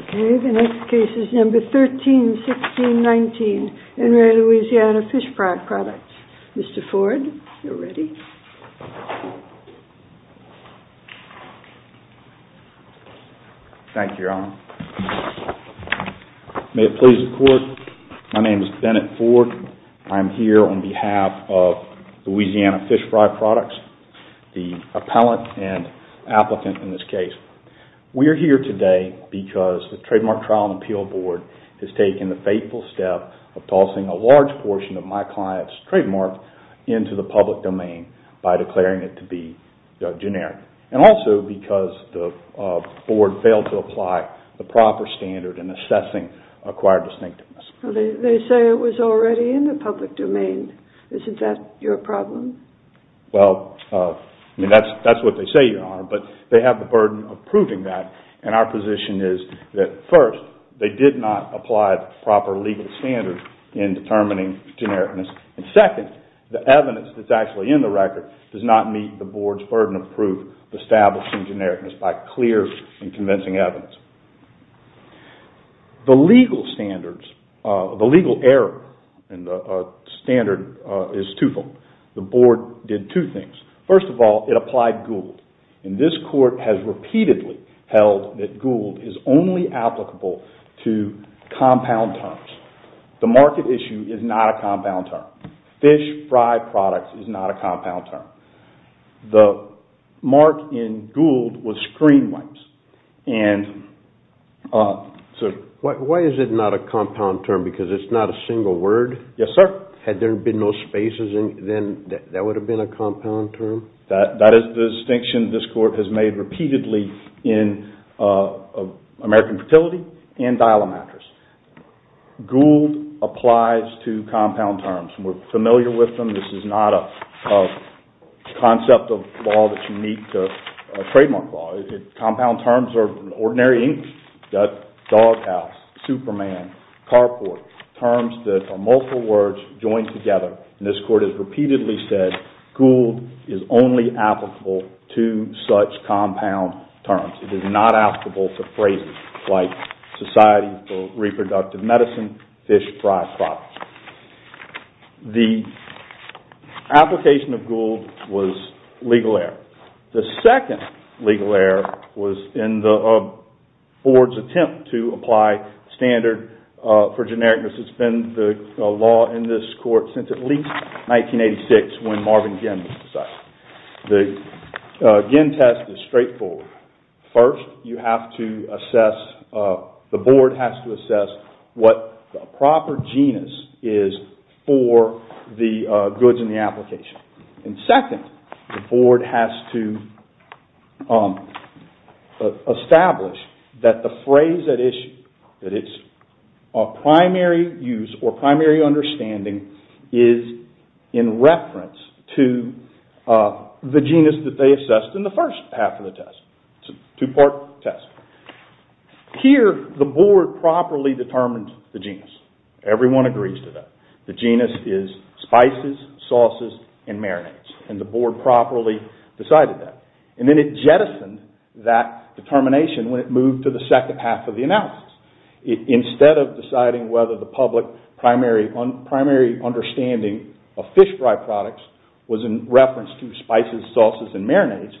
Okay, the next case is number 131619 in Re Louisiana Fish Fry Products. Mr. Ford, you're ready. Thank you, Your Honor. May it please the court, my name is Bennett Ford. I'm here on behalf of Louisiana Fish Fry Products, the appellant and applicant in this case. We're here today because the Trademark Trial and Appeal Board has taken the fateful step of tossing a large portion of my client's trademark into the public domain by declaring it to be generic. And also because the board failed to apply the proper standard in assessing acquired distinctiveness. They say it was already in the public domain. Isn't that your problem? Well, that's what they say, Your Honor, but they have the burden of proving that and our position is that first, they did not apply the proper legal standard in determining genericness. And second, the evidence that's actually in the record does not meet the board's burden of proof of establishing genericness by clear and convincing evidence. The legal standards, the legal error in the standard is twofold. The board did two things. First of all, it applied Gould. And this court has repeatedly held that Gould is only applicable to compound terms. The market issue is not a compound term. Fish Fry Products is not a compound term. The mark in Gould was screen wipes. Why is it not a compound term? Because it's not a single word? Yes, sir. Had there been no spaces, then that would have been a compound term? That is the distinction this court has made repeatedly in American Fertility and Dial-A-Mattress. Gould applies to compound terms. We're familiar with them. This is not a concept of law that's unique to trademark law. Compound terms are ordinary inks, duck, doghouse, Superman, carport, terms that are multiple words joined together. And this court has repeatedly said Gould is only applicable to such compound terms. It is not applicable to phrases like Society for Reproductive Medicine, Fish Fry Products. The application of Gould was legal error. The second legal error was in the board's attempt to apply standard for genericness. It's been the law in this court since at least 1986 when Marvin Ginn was decided. The Ginn test is straightforward. First, you have to assess, the board has to assess what the proper genus is for the goods in the application. And second, the board has to establish that the phrase at issue, that it's of primary use or primary understanding is in reference to the genus that they assessed in the first half of the test. It's a two-part test. Here, the board properly determined the genus. Everyone agrees to that. The genus is spices, sauces and marinades. And the board properly decided that. And then it jettisoned that determination when it moved to the second half of the analysis. Instead of deciding whether the public primary understanding of fish fry products was in reference to spices, sauces and marinades,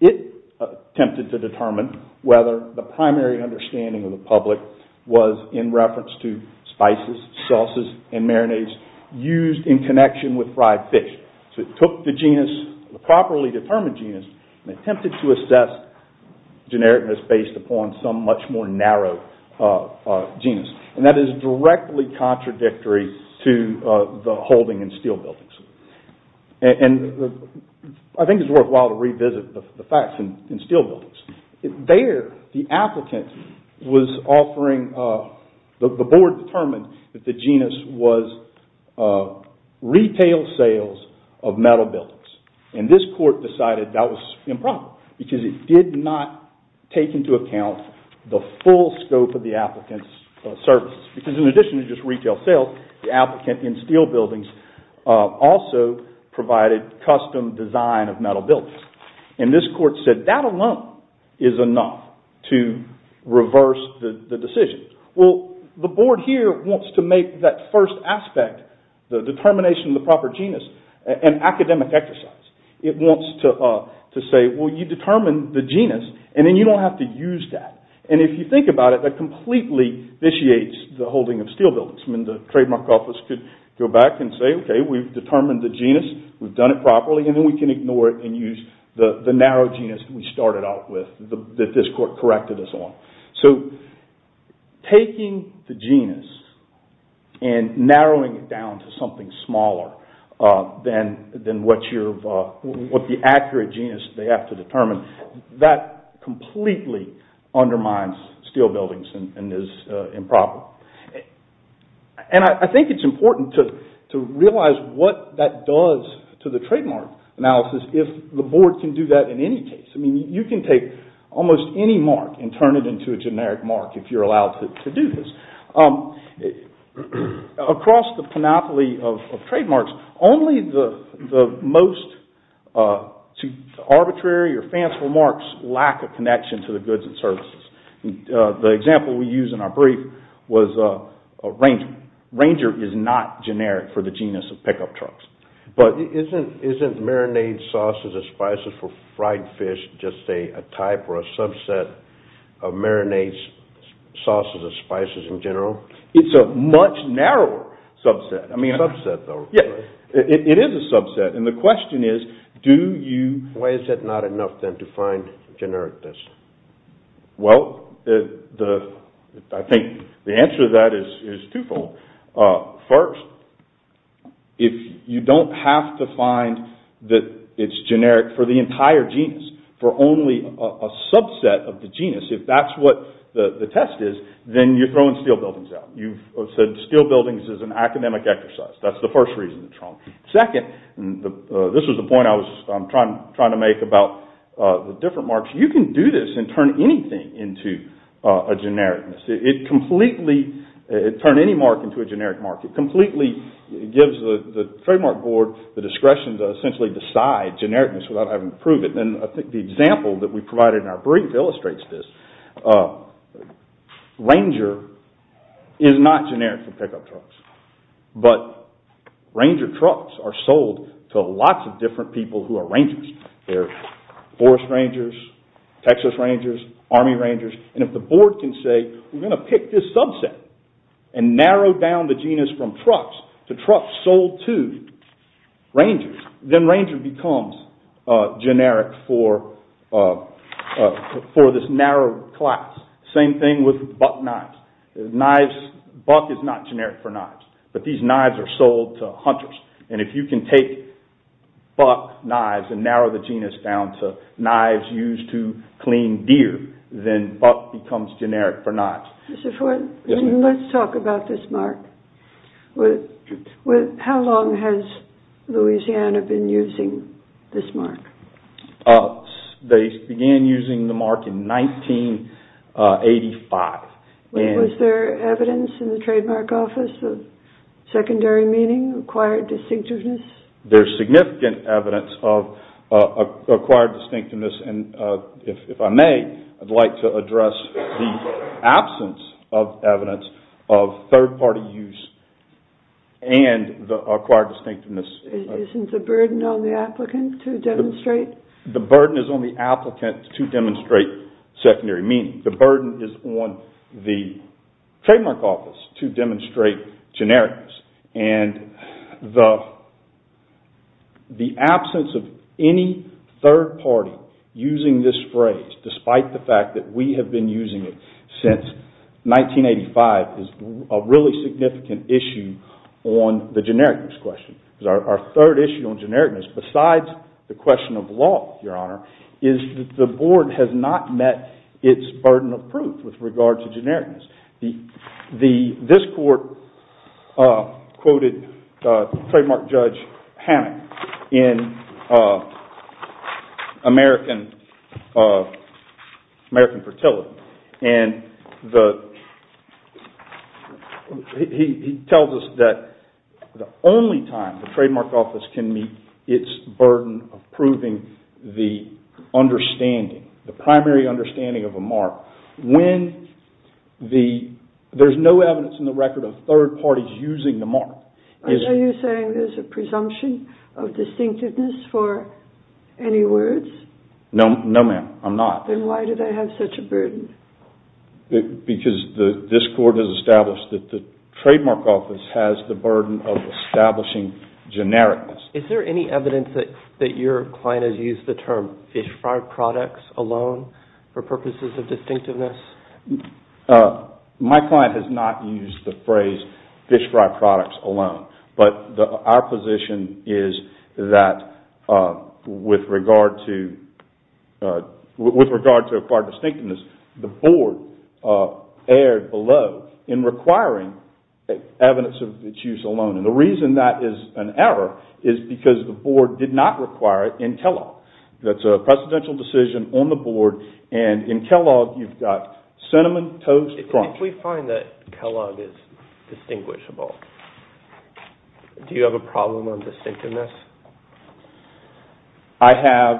it attempted to determine whether the primary understanding of the public was in reference to spices, sauces and marinades used in connection with fried fish. So it took the genus, the properly determined genus, and attempted to assess genericness based upon some much more narrow genus. And that is directly contradictory to the holding in steel buildings. And I think it's worthwhile to revisit the facts in steel buildings. There, the applicant was offering, the board determined that the genus was retail sales of metal buildings. And this court decided that was improper, because it did not take into account the full scope of the applicant's services. Because in addition to just retail sales, the applicant in steel buildings also provided custom design of metal buildings. And this court said that alone is enough to Well, the board here wants to make that first aspect, the determination of the proper genus, an academic exercise. It wants to say, well you determined the genus and then you don't have to use that. And if you think about it, that completely vitiates the holding of steel buildings. I mean, the trademark office could go back and say, okay, we've determined the genus, we've done it properly and then we can ignore it and use the narrow genus we started out with that this court corrected us So, taking the genus and narrowing it down to something smaller than what the accurate genus they have to determine, that completely undermines steel buildings and is improper. And I think it's important to realize what that does to the trademark analysis if the board can that in any case. I mean, you can take almost any mark and turn it into a generic mark if you're allowed to do this. Across the panoply of trademarks, only the most arbitrary or fanciful marks lack a connection to the goods and services. The example we used in our brief was a Ranger. Ranger is not generic for the genus of pickup trucks. But isn't marinade, sauces, or spices for fried fish just a type or a subset of marinades, sauces, or spices in general? It's a much narrower subset. I mean, it is a subset. And the question is, do you... Why is it not enough then to find generic this? Well, I think the answer to that is twofold. First, if you don't have to find that it's generic for the entire genus, for only a subset of the genus, if that's what the test is, then you're throwing steel buildings out. You've said steel buildings is an academic exercise. That's the first reason. Second, and this was the point I was trying to make about the different marks. You can do this and turn anything into a genericness. It completely... Turn any mark into a generic mark. It completely gives the trademark board the discretion to essentially decide genericness without having to prove it. And I think the example that we provided in our brief illustrates this. Ranger is not generic for pickup trucks. But Ranger trucks are sold to lots of different people who are rangers. They're forest rangers, Texas rangers, army rangers. And if the board can say, we're going to pick this subset and narrow down the genus from trucks to trucks sold to rangers, then Ranger becomes generic for this narrow class. Same thing with buck knives. Buck is not generic for knives. But these knives are sold to hunters. And if you can take buck knives and narrow the genus down to knives used to clean deer, then buck becomes generic for knives. Let's talk about this mark. How long has Louisiana been using this mark? They began using the mark in 1985. Was there evidence in the trademark office of significant evidence of acquired distinctiveness? And if I may, I'd like to address the absence of evidence of third party use and the acquired distinctiveness. Isn't the burden on the applicant to demonstrate? The burden is on the applicant to demonstrate secondary meaning. The absence of any third party using this phrase, despite the fact that we have been using it since 1985, is a really significant issue on the genericness question. Because our third issue on genericness, besides the question of law, Your Honor, is that the board has not met its burden of proof with regard to genericness. This court quoted trademark judge Hammond in American Fertility. And he tells us that the only time the trademark office can meet its burden of proving the understanding, the primary understanding of a mark, when there's no evidence in the record of third parties using the mark. Are you saying there's a presumption of distinctiveness for any words? No, ma'am. I'm not. Then why do they have such a burden? Because this court has established that the trademark office has the burden of establishing genericness. Is there any evidence that your client has used the term fish fry products alone for purposes of distinctiveness? My client has not used the phrase fish fry products alone. But our position is that with regard to acquired distinctiveness, the board erred below in requiring evidence of its use alone. And the reason that is an error is because the board did not require it in Kellogg. That's a precedential decision on the board. And in Kellogg, you've got cinnamon toast crunch. If we find that Kellogg is distinguishable, do you have a problem on distinctiveness? I have.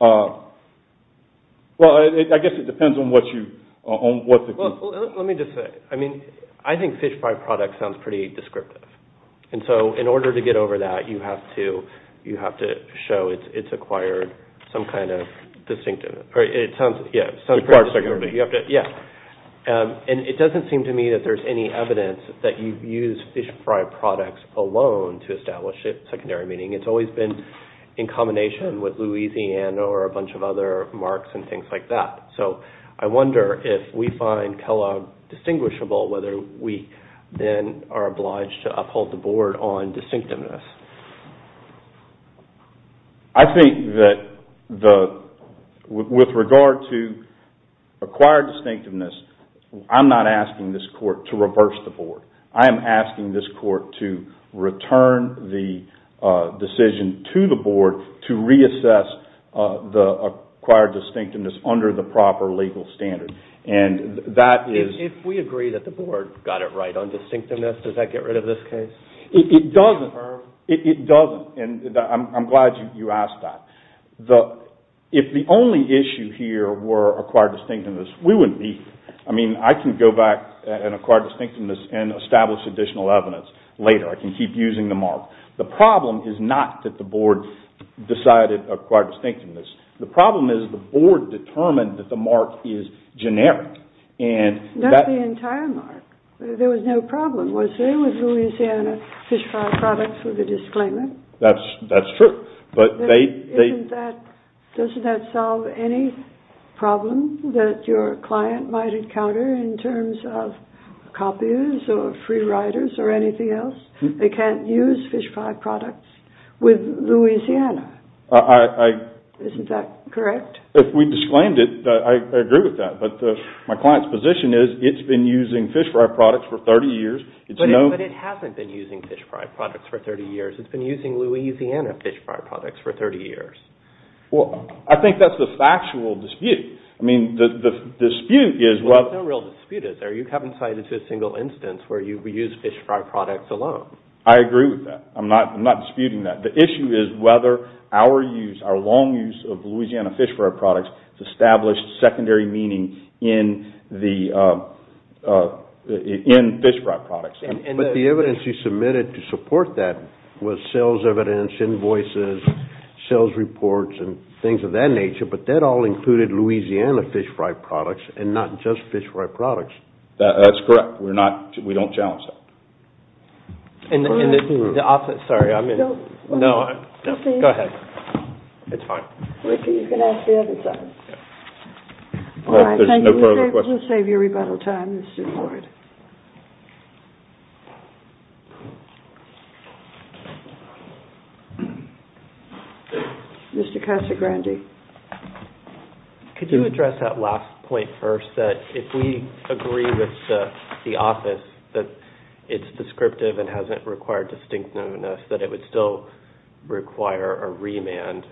Well, I guess it depends on what you... Let me just say, I mean, I think fish fry products sounds pretty descriptive. And so in order to get over that, you have to show it's acquired some kind of distinctiveness. And it doesn't seem to me that there's any evidence that you've used fish fry products alone to establish a secondary meaning. It's always been in combination with Louisiana or a bunch of other marks and things like that. So I wonder if we find then are obliged to uphold the board on distinctiveness. I think that with regard to acquired distinctiveness, I'm not asking this court to reverse the board. I am asking this court to return the decision to the board to reassess the acquired distinctiveness under the proper legal standard. And that is... On distinctiveness, does that get rid of this case? It doesn't. It doesn't. And I'm glad you asked that. If the only issue here were acquired distinctiveness, we wouldn't leave. I mean, I can go back and acquire distinctiveness and establish additional evidence later. I can keep using the mark. The problem is not that the board decided acquired distinctiveness. The problem is the board determined that the mark is generic. That's the entire mark. There was no problem, was there, with Louisiana fish fry products with the disclaimer? That's true. Doesn't that solve any problem that your client might encounter in terms of copiers or free riders or anything else? They can't use fish fry products with Louisiana. Isn't that correct? If we disclaimed it, I agree with that. But my client's position is it's been using fish fry products for 30 years. But it hasn't been using fish fry products for 30 years. It's been using Louisiana fish fry products for 30 years. Well, I think that's the factual dispute. I mean, the dispute is... There's no real dispute, is there? You haven't cited a single instance where you used fish fry products alone. I agree with that. I'm not disputing that. The issue is whether our long use of Louisiana fish fry products has established secondary meaning in fish fry products. But the evidence you submitted to support that was sales evidence, invoices, sales reports, and things of that nature. But that all included Louisiana fish fry products and not just fish fry products. That's correct. We don't challenge that. And the opposite... Sorry, I'm in... No, go ahead. It's fine. Ricky, you can ask the other side. All right, thank you. We'll save you rebuttal time, Mr. Lloyd. Mr. Casagrande. Could you address that last point first, that if we agree with the office that it's descriptive and hasn't required distinctiveness, that it would still require a remand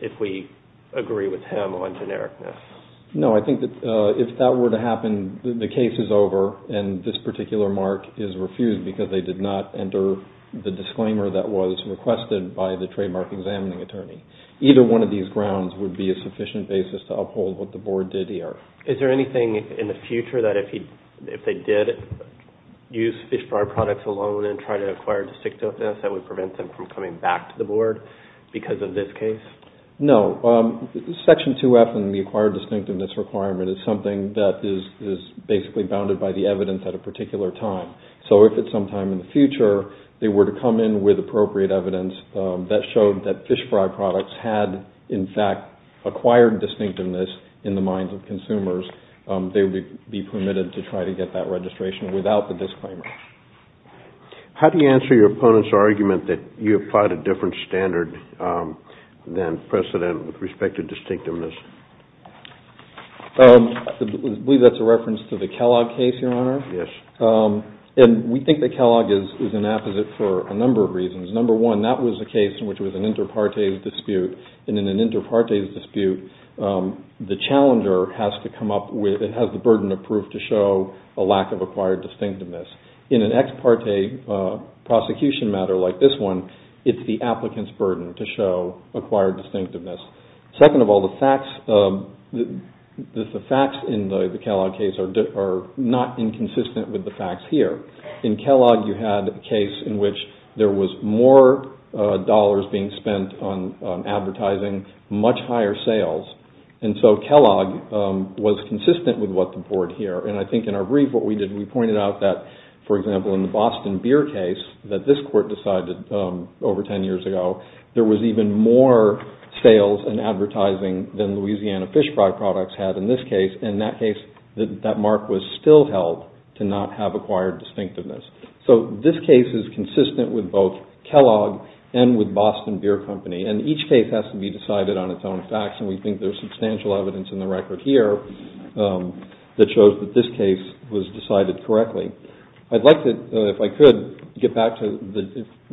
if we agree with him on genericness? No, I think that if that were to happen, the case is over and this particular mark is refused because they did not enter the disclaimer that was requested by the trademark examining attorney. Either one of these grounds would be a sufficient basis to uphold what the board did here. Is there anything in the future that if they did use fish fry products alone and try to acquire distinctiveness, that would prevent them from coming back to the board because of this case? No. Section 2F and the acquired distinctiveness requirement is something that is basically bounded by the evidence at a particular time. So if at some time in the future they were to come in with appropriate evidence that showed that fish fry products had, in fact, acquired distinctiveness in the minds of consumers, they would be permitted to try to get that registration without the disclaimer. How do you answer your opponent's argument that you applied a different standard than precedent with respect to distinctiveness? I believe that's a reference to the Kellogg case, Your Honor. And we think that Kellogg is an apposite for a number of reasons. Number one, that was a case in which it was an inter partes dispute. And in an inter partes dispute, the challenger has to come up with, it has the burden of proof to show a lack of acquired distinctiveness. In an ex parte prosecution matter like this one, it's the applicant's burden to show acquired distinctiveness. Second of all, the facts in the Kellogg case are not inconsistent with the facts here. In Kellogg, you had a case in which there was more dollars being spent on advertising, much higher sales. And so Kellogg was consistent with what the board here. And I think in our brief what we did, we pointed out that, for example, in the Boston beer case that this court decided over 10 years ago, there was even more sales and advertising than Louisiana fish fry products had in this case. In that case, that mark was still held to not have acquired distinctiveness. So this case is consistent with both Kellogg and with Boston Beer Company. And each case has to be decided on its own facts. And we think there's substantial evidence in the record here that shows that this case was decided correctly. I'd like to, if I could, get back to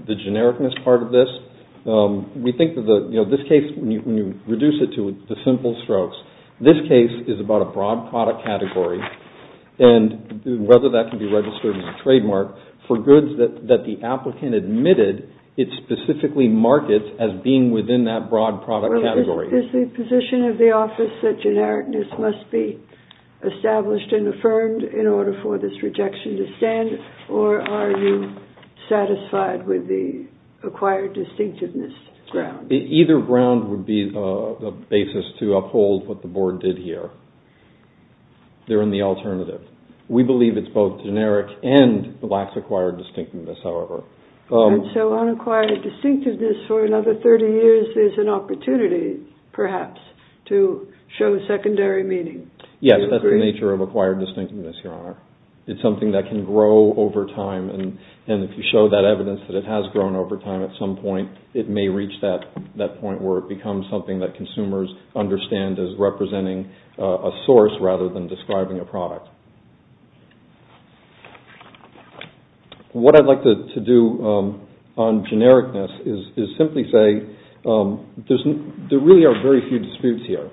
the genericness part of this. We think that this case, when you reduce it to the simple strokes, this case is about a broad product category and whether that can be registered as a trademark for goods that the applicant admitted it specifically markets as being within that broad product category. Is the position of the office that genericness must be established and affirmed in order for this rejection to stand? Or are you satisfied with the acquired distinctiveness ground? Either ground would be the basis to uphold what the board did here. They're in the alternative. We believe it's both generic and blacks acquired distinctiveness, however. And so unacquired distinctiveness for another 30 years is an opportunity, perhaps, to show secondary meaning. Yes, that's the nature of acquired distinctiveness, Your Honor. It's something that can grow over time. And if you show that evidence that it has grown over time at some point, it may reach that point where it becomes something that consumers understand as representing a source rather than describing a product. What I'd like to do on genericness is simply say there really are very few disputes here.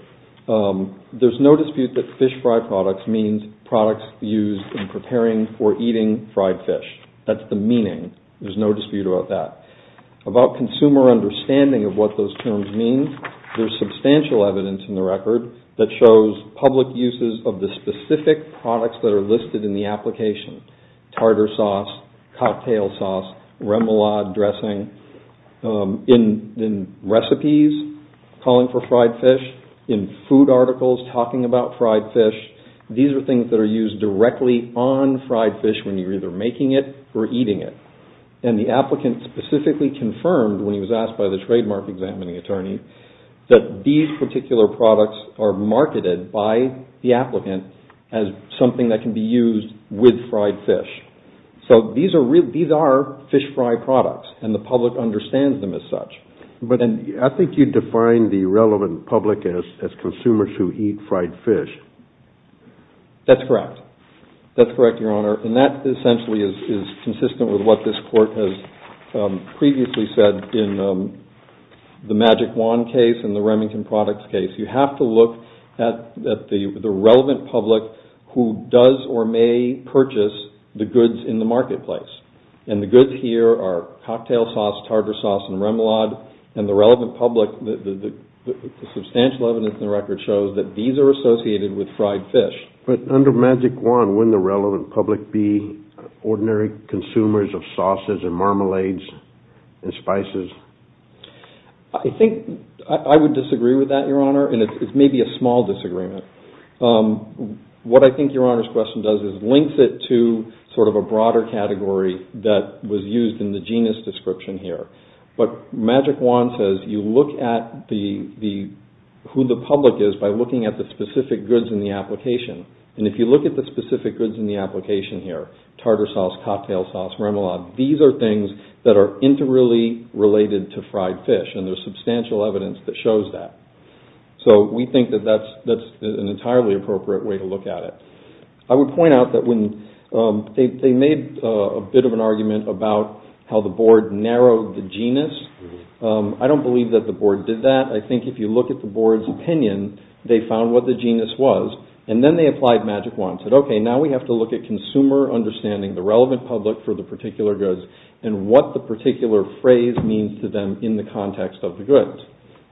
There's no dispute that fish fry products means products used in preparing for eating fried fish. That's the meaning. There's no dispute about that. About consumer understanding of what those terms mean, there's substantial evidence in the record that shows public uses of the specific products that are listed in the application. Tartar sauce, cocktail sauce, remoulade dressing, in recipes calling for fried fish, in food articles talking about fried fish. These are things that are used directly on fried fish when you're either making it or eating it. And the applicant specifically confirmed when he was asked by the trademark examining attorney that these particular products are marketed by the applicant as something that can be used with fried fish. So these are fish fry products and the public understands them as such. But I think you define the relevant public as consumers who eat fried fish. That's correct. That's correct, Your Honor. And that essentially is consistent with what this case and the Remington products case. You have to look at the relevant public who does or may purchase the goods in the marketplace. And the goods here are cocktail sauce, tartar sauce, and remoulade. And the relevant public, the substantial evidence in the record shows that these are associated with fried fish. But under Magic Wand, wouldn't the relevant public be I would disagree with that, Your Honor. And it's maybe a small disagreement. What I think Your Honor's question does is links it to sort of a broader category that was used in the genus description here. But Magic Wand says you look at who the public is by looking at the specific goods in the application. And if you look at the specific goods in the application here, tartar sauce, cocktail sauce, remoulade, these are things that are inter-related to fried fish. And there's substantial evidence that shows that. So, we think that that's an entirely appropriate way to look at it. I would point out that when they made a bit of an argument about how the board narrowed the genus, I don't believe that the board did that. I think if you look at the board's opinion, they found what the genus was. And then they applied Magic Wand and said, okay, now we have to look at consumer understanding the relevant public for the particular goods and what the particular phrase means to them in the context of the goods.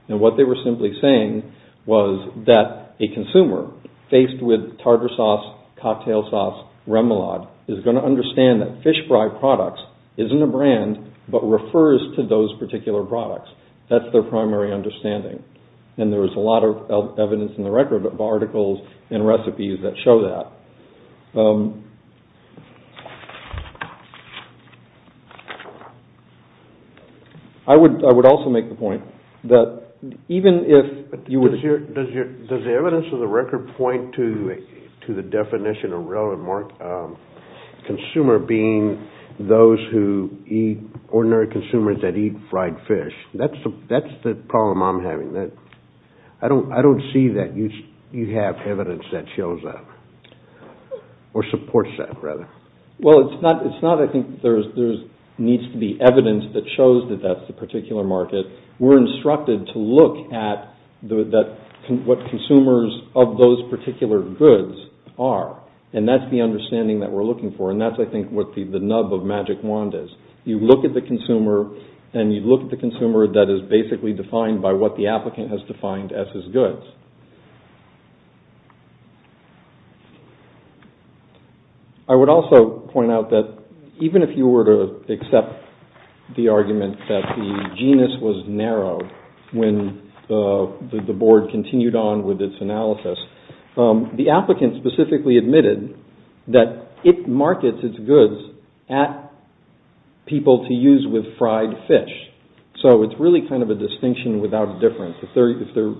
And what they were simply saying was that a consumer faced with tartar sauce, cocktail sauce, remoulade is going to understand that fish fry products isn't a brand but refers to those particular products. That's their primary understanding. And there was a lot of discussion. I would also make the point that even if you were to... Does the evidence of the record point to the definition of relevant consumer being those who eat, ordinary consumers that eat fried fish? That's the problem I'm having. I don't see that you have evidence that shows that. Or supports that, rather. Well, it's not... I think there needs to be evidence that shows that that's the particular market. We're instructed to look at what consumers of those particular goods are. And that's the understanding that we're looking for. And that's, I think, what the nub of Magic Wand is. You look at the consumer and you look at the consumer that is basically defined by what the applicant has defined as his goods. I would also point out that even if you were to accept the argument that the genus was narrow when the board continued on with its analysis, the applicant specifically admitted that it markets its goods at people to use with fried fish. So it's really kind of a distinction without a difference. If they're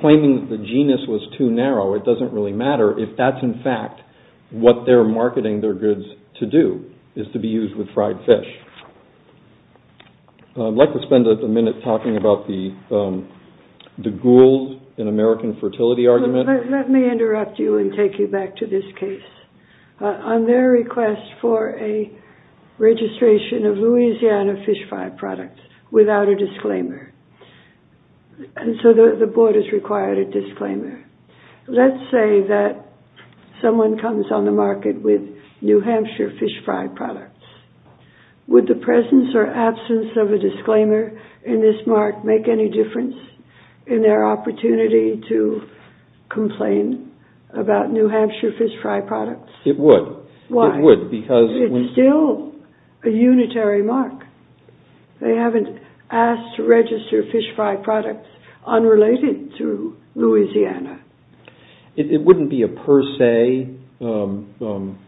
claiming that the genus was too narrow, it doesn't really matter if that's in fact what they're marketing their goods to do, is to be used with fried fish. I'd like to spend a minute talking about the Gould and American Fertility argument. Let me interrupt you and take you back to this case. On their request for a registration of Louisiana fish fry products without a disclaimer, and so the board has required a disclaimer, let's say that someone comes on the market with New Hampshire fish fry products. Would the presence or absence of a disclaimer in this opportunity to complain about New Hampshire fish fry products? It would. Why? It would because... It's still a unitary mark. They haven't asked to register fish fry products unrelated to Louisiana. It wouldn't be a per se prohibition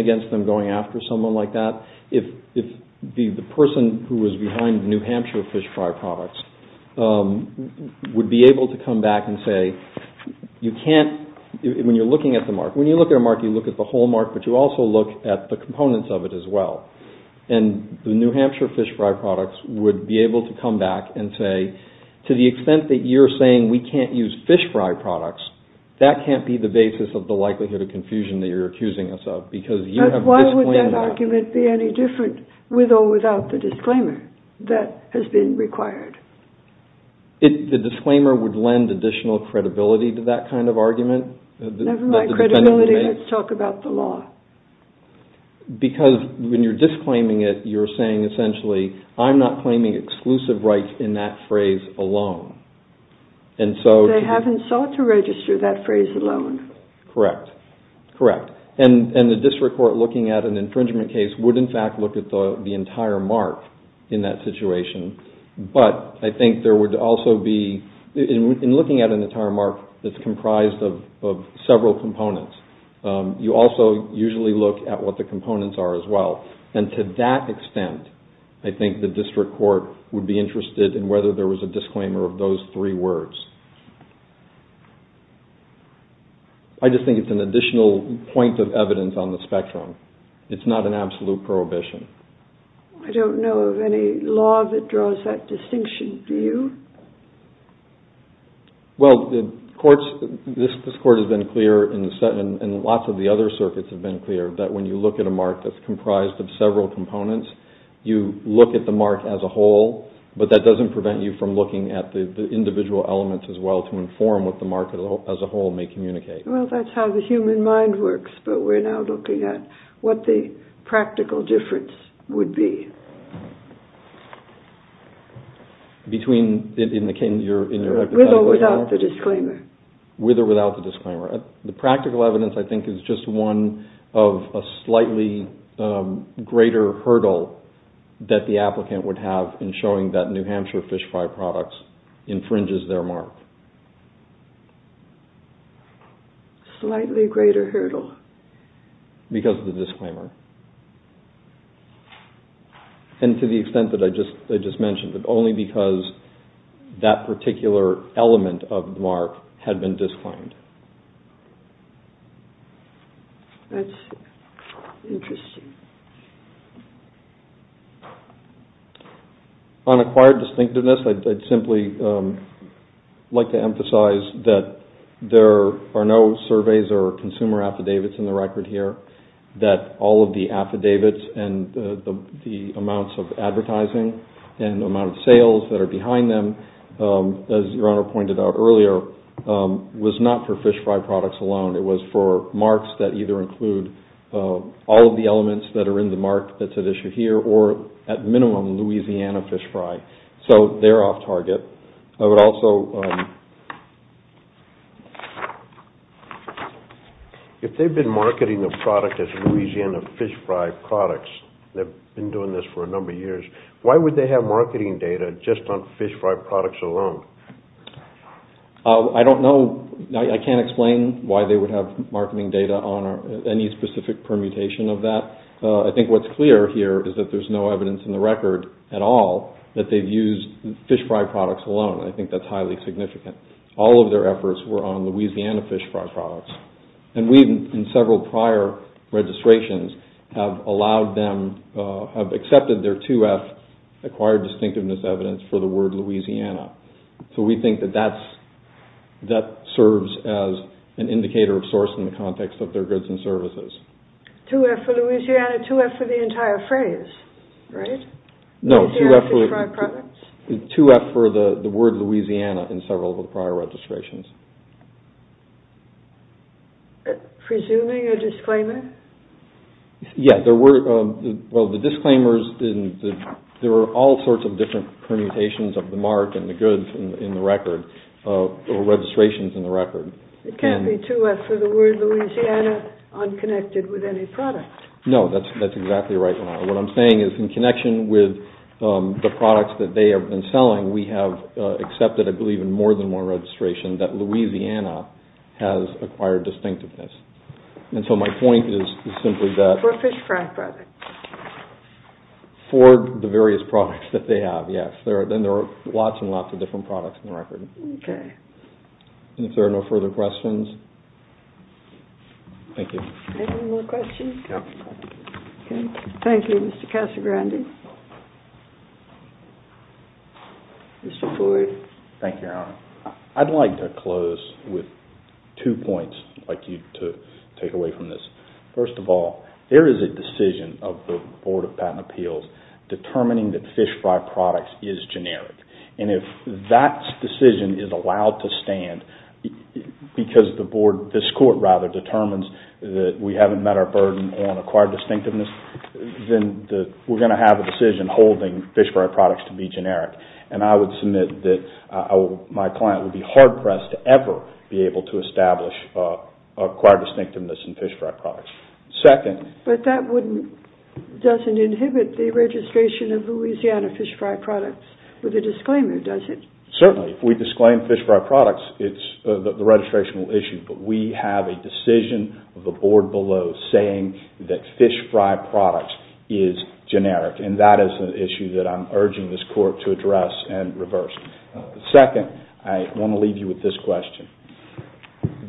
against them going after someone like that if the person who was behind New Hampshire fish fry products would be able to come back and say, you can't, when you're looking at the mark, when you look at a mark, you look at the whole mark, but you also look at the components of it as well. And the New Hampshire fish fry products would be able to come back and say, to the extent that you're saying we can't use fish fry products, that can't be the basis of the likelihood of confusion that you're accusing us of. But why would that argument be any different with or without the disclaimer that has been required? The disclaimer would lend additional credibility to that kind of argument. Never mind credibility, let's talk about the law. Because when you're disclaiming it, you're saying essentially, I'm not claiming exclusive rights in that phrase alone. They haven't sought to register that phrase alone. Correct, correct. And the district court looking at an infringement case would in fact look at the entire mark in that situation. But I think there would also be, in looking at an entire mark that's comprised of several components, you also usually look at what the components are as well. And to that extent, I think the district court would be interested in whether there was a disclaimer of those three words. I just think it's an additional point of evidence on the spectrum. It's not an absolute prohibition. I don't know of any law that draws that distinction, do you? Well, this court has been clear, and lots of the other circuits have been clear, that when you look at a mark that's comprised of several components, you look at the mark as a whole, but that doesn't prevent you from looking at the individual elements as well to inform what the mark as a whole may communicate. Well, that's how the human mind works, but we're now looking at what the practical difference would be. Between, in the case of your... With or without the disclaimer. With or without the disclaimer. The practical evidence, I think, is just one of a slightly greater hurdle that the applicant would have in showing that New Hampshire Fish Fry Products infringes their mark. Slightly greater hurdle. Because of the disclaimer. And to the extent that I just mentioned, that only because that particular element of the mark had been disclaimed. That's interesting. On acquired distinctiveness, I'd simply like to emphasize that there are no surveys or consumer affidavits in the record here. That all of the affidavits and the amounts of advertising and the amount of sales that are behind them, as your Honor pointed out earlier, was not for Fish Fry Products alone. It was for marks that either include all of the elements that are behind them, that are in the mark that's at issue here, or at minimum, Louisiana Fish Fry. So they're off target. I would also... If they've been marketing the product as Louisiana Fish Fry Products, they've been doing this for a number of years, why would they have marketing data just on Fish Fry Products alone? I don't know. I can't explain why they would have marketing data on any specific permutation of that. I think what's clear here is that there's no evidence in the record at all that they've used Fish Fry Products alone. I think that's highly significant. All of their efforts were on Louisiana Fish Fry Products. And we, in several prior registrations, have allowed them, have accepted their 2F acquired distinctiveness evidence for the word Louisiana. So we think that that serves as an indicator of source in the context of their goods and services. 2F for Louisiana, 2F for the entire phrase, right? No, 2F for the word Louisiana in several of the prior registrations. Presuming a disclaimer? Yeah, there were, well, the disclaimers, there were all sorts of different permutations of the mark and the goods in the record, or registrations in the record. It can't be 2F for the word Louisiana unconnected with any product. No, that's exactly right. What I'm saying is in connection with the products that they have been selling, we have accepted, I believe, in more than one registration that Louisiana has acquired distinctiveness. And so my point is simply that... For Fish Fry Products. For the various products that they have, yes. Then there are lots and lots of different products in the record. Okay. And if there are no further questions? Thank you. Anyone have more questions? No. Okay. Thank you, Mr. Casagrande. Mr. Boyd. Thank you, Your Honor. I'd like to close with two points I'd like you to take away from this. First of all, there is a decision of the Board of Patent Appeals determining that Fish Fry Products is generic. And if that decision is allowed to stand because the board, this court rather, determines that we haven't met our burden on acquired distinctiveness, then we're going to have a decision holding Fish Fry Products to be generic. And I would submit that my client would be hard-pressed to ever be able to establish acquired distinctiveness in Fish Fry Products. Second... But that doesn't inhibit the registration of Louisiana Fish Fry Products with a disclaimer, does it? Certainly. If we disclaim Fish Fry Products, it's the registrational issue. But we have a decision of the board below saying that Fish Fry Products is generic. And that is an issue that I'm urging this court to address and reverse. Second, I want to leave you with this question.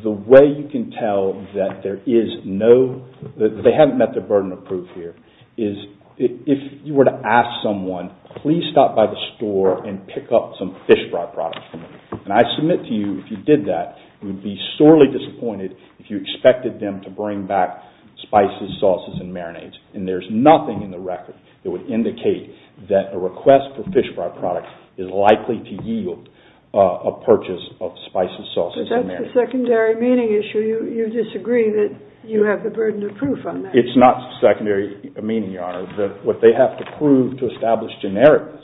The way you can tell that there is no... They haven't met their burden of proof here. If you were to ask someone, please stop by the store and pick up some Fish Fry Products. And I submit to you, if you did that, you'd be sorely disappointed if you expected them to bring back spices, sauces, and marinades. And there's nothing in the record that would indicate that a request for Fish Fry Products is likely to yield a purchase of spices, sauces, and marinades. But that's a secondary meaning issue. You disagree that you have the burden of proof on that. It's not secondary meaning, Your Honor. What they have to prove to establish genericness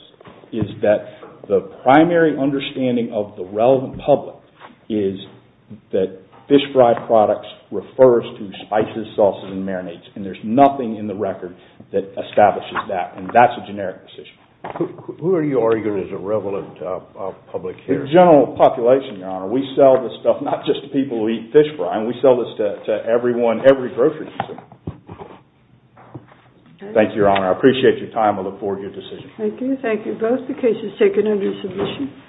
is that the primary understanding of the relevant public is that Fish Fry Products refers to spices, sauces, and marinades. And there's nothing in the record that establishes that. And that's a generic decision. Who are you arguing is a relevant public here? General population, Your Honor. We sell this stuff not just to people who eat fish fry. We sell this to everyone, every grocery store. Thank you, Your Honor. I appreciate your time. I look forward to your decision. Thank you. Thank you both. The case is taken under submission.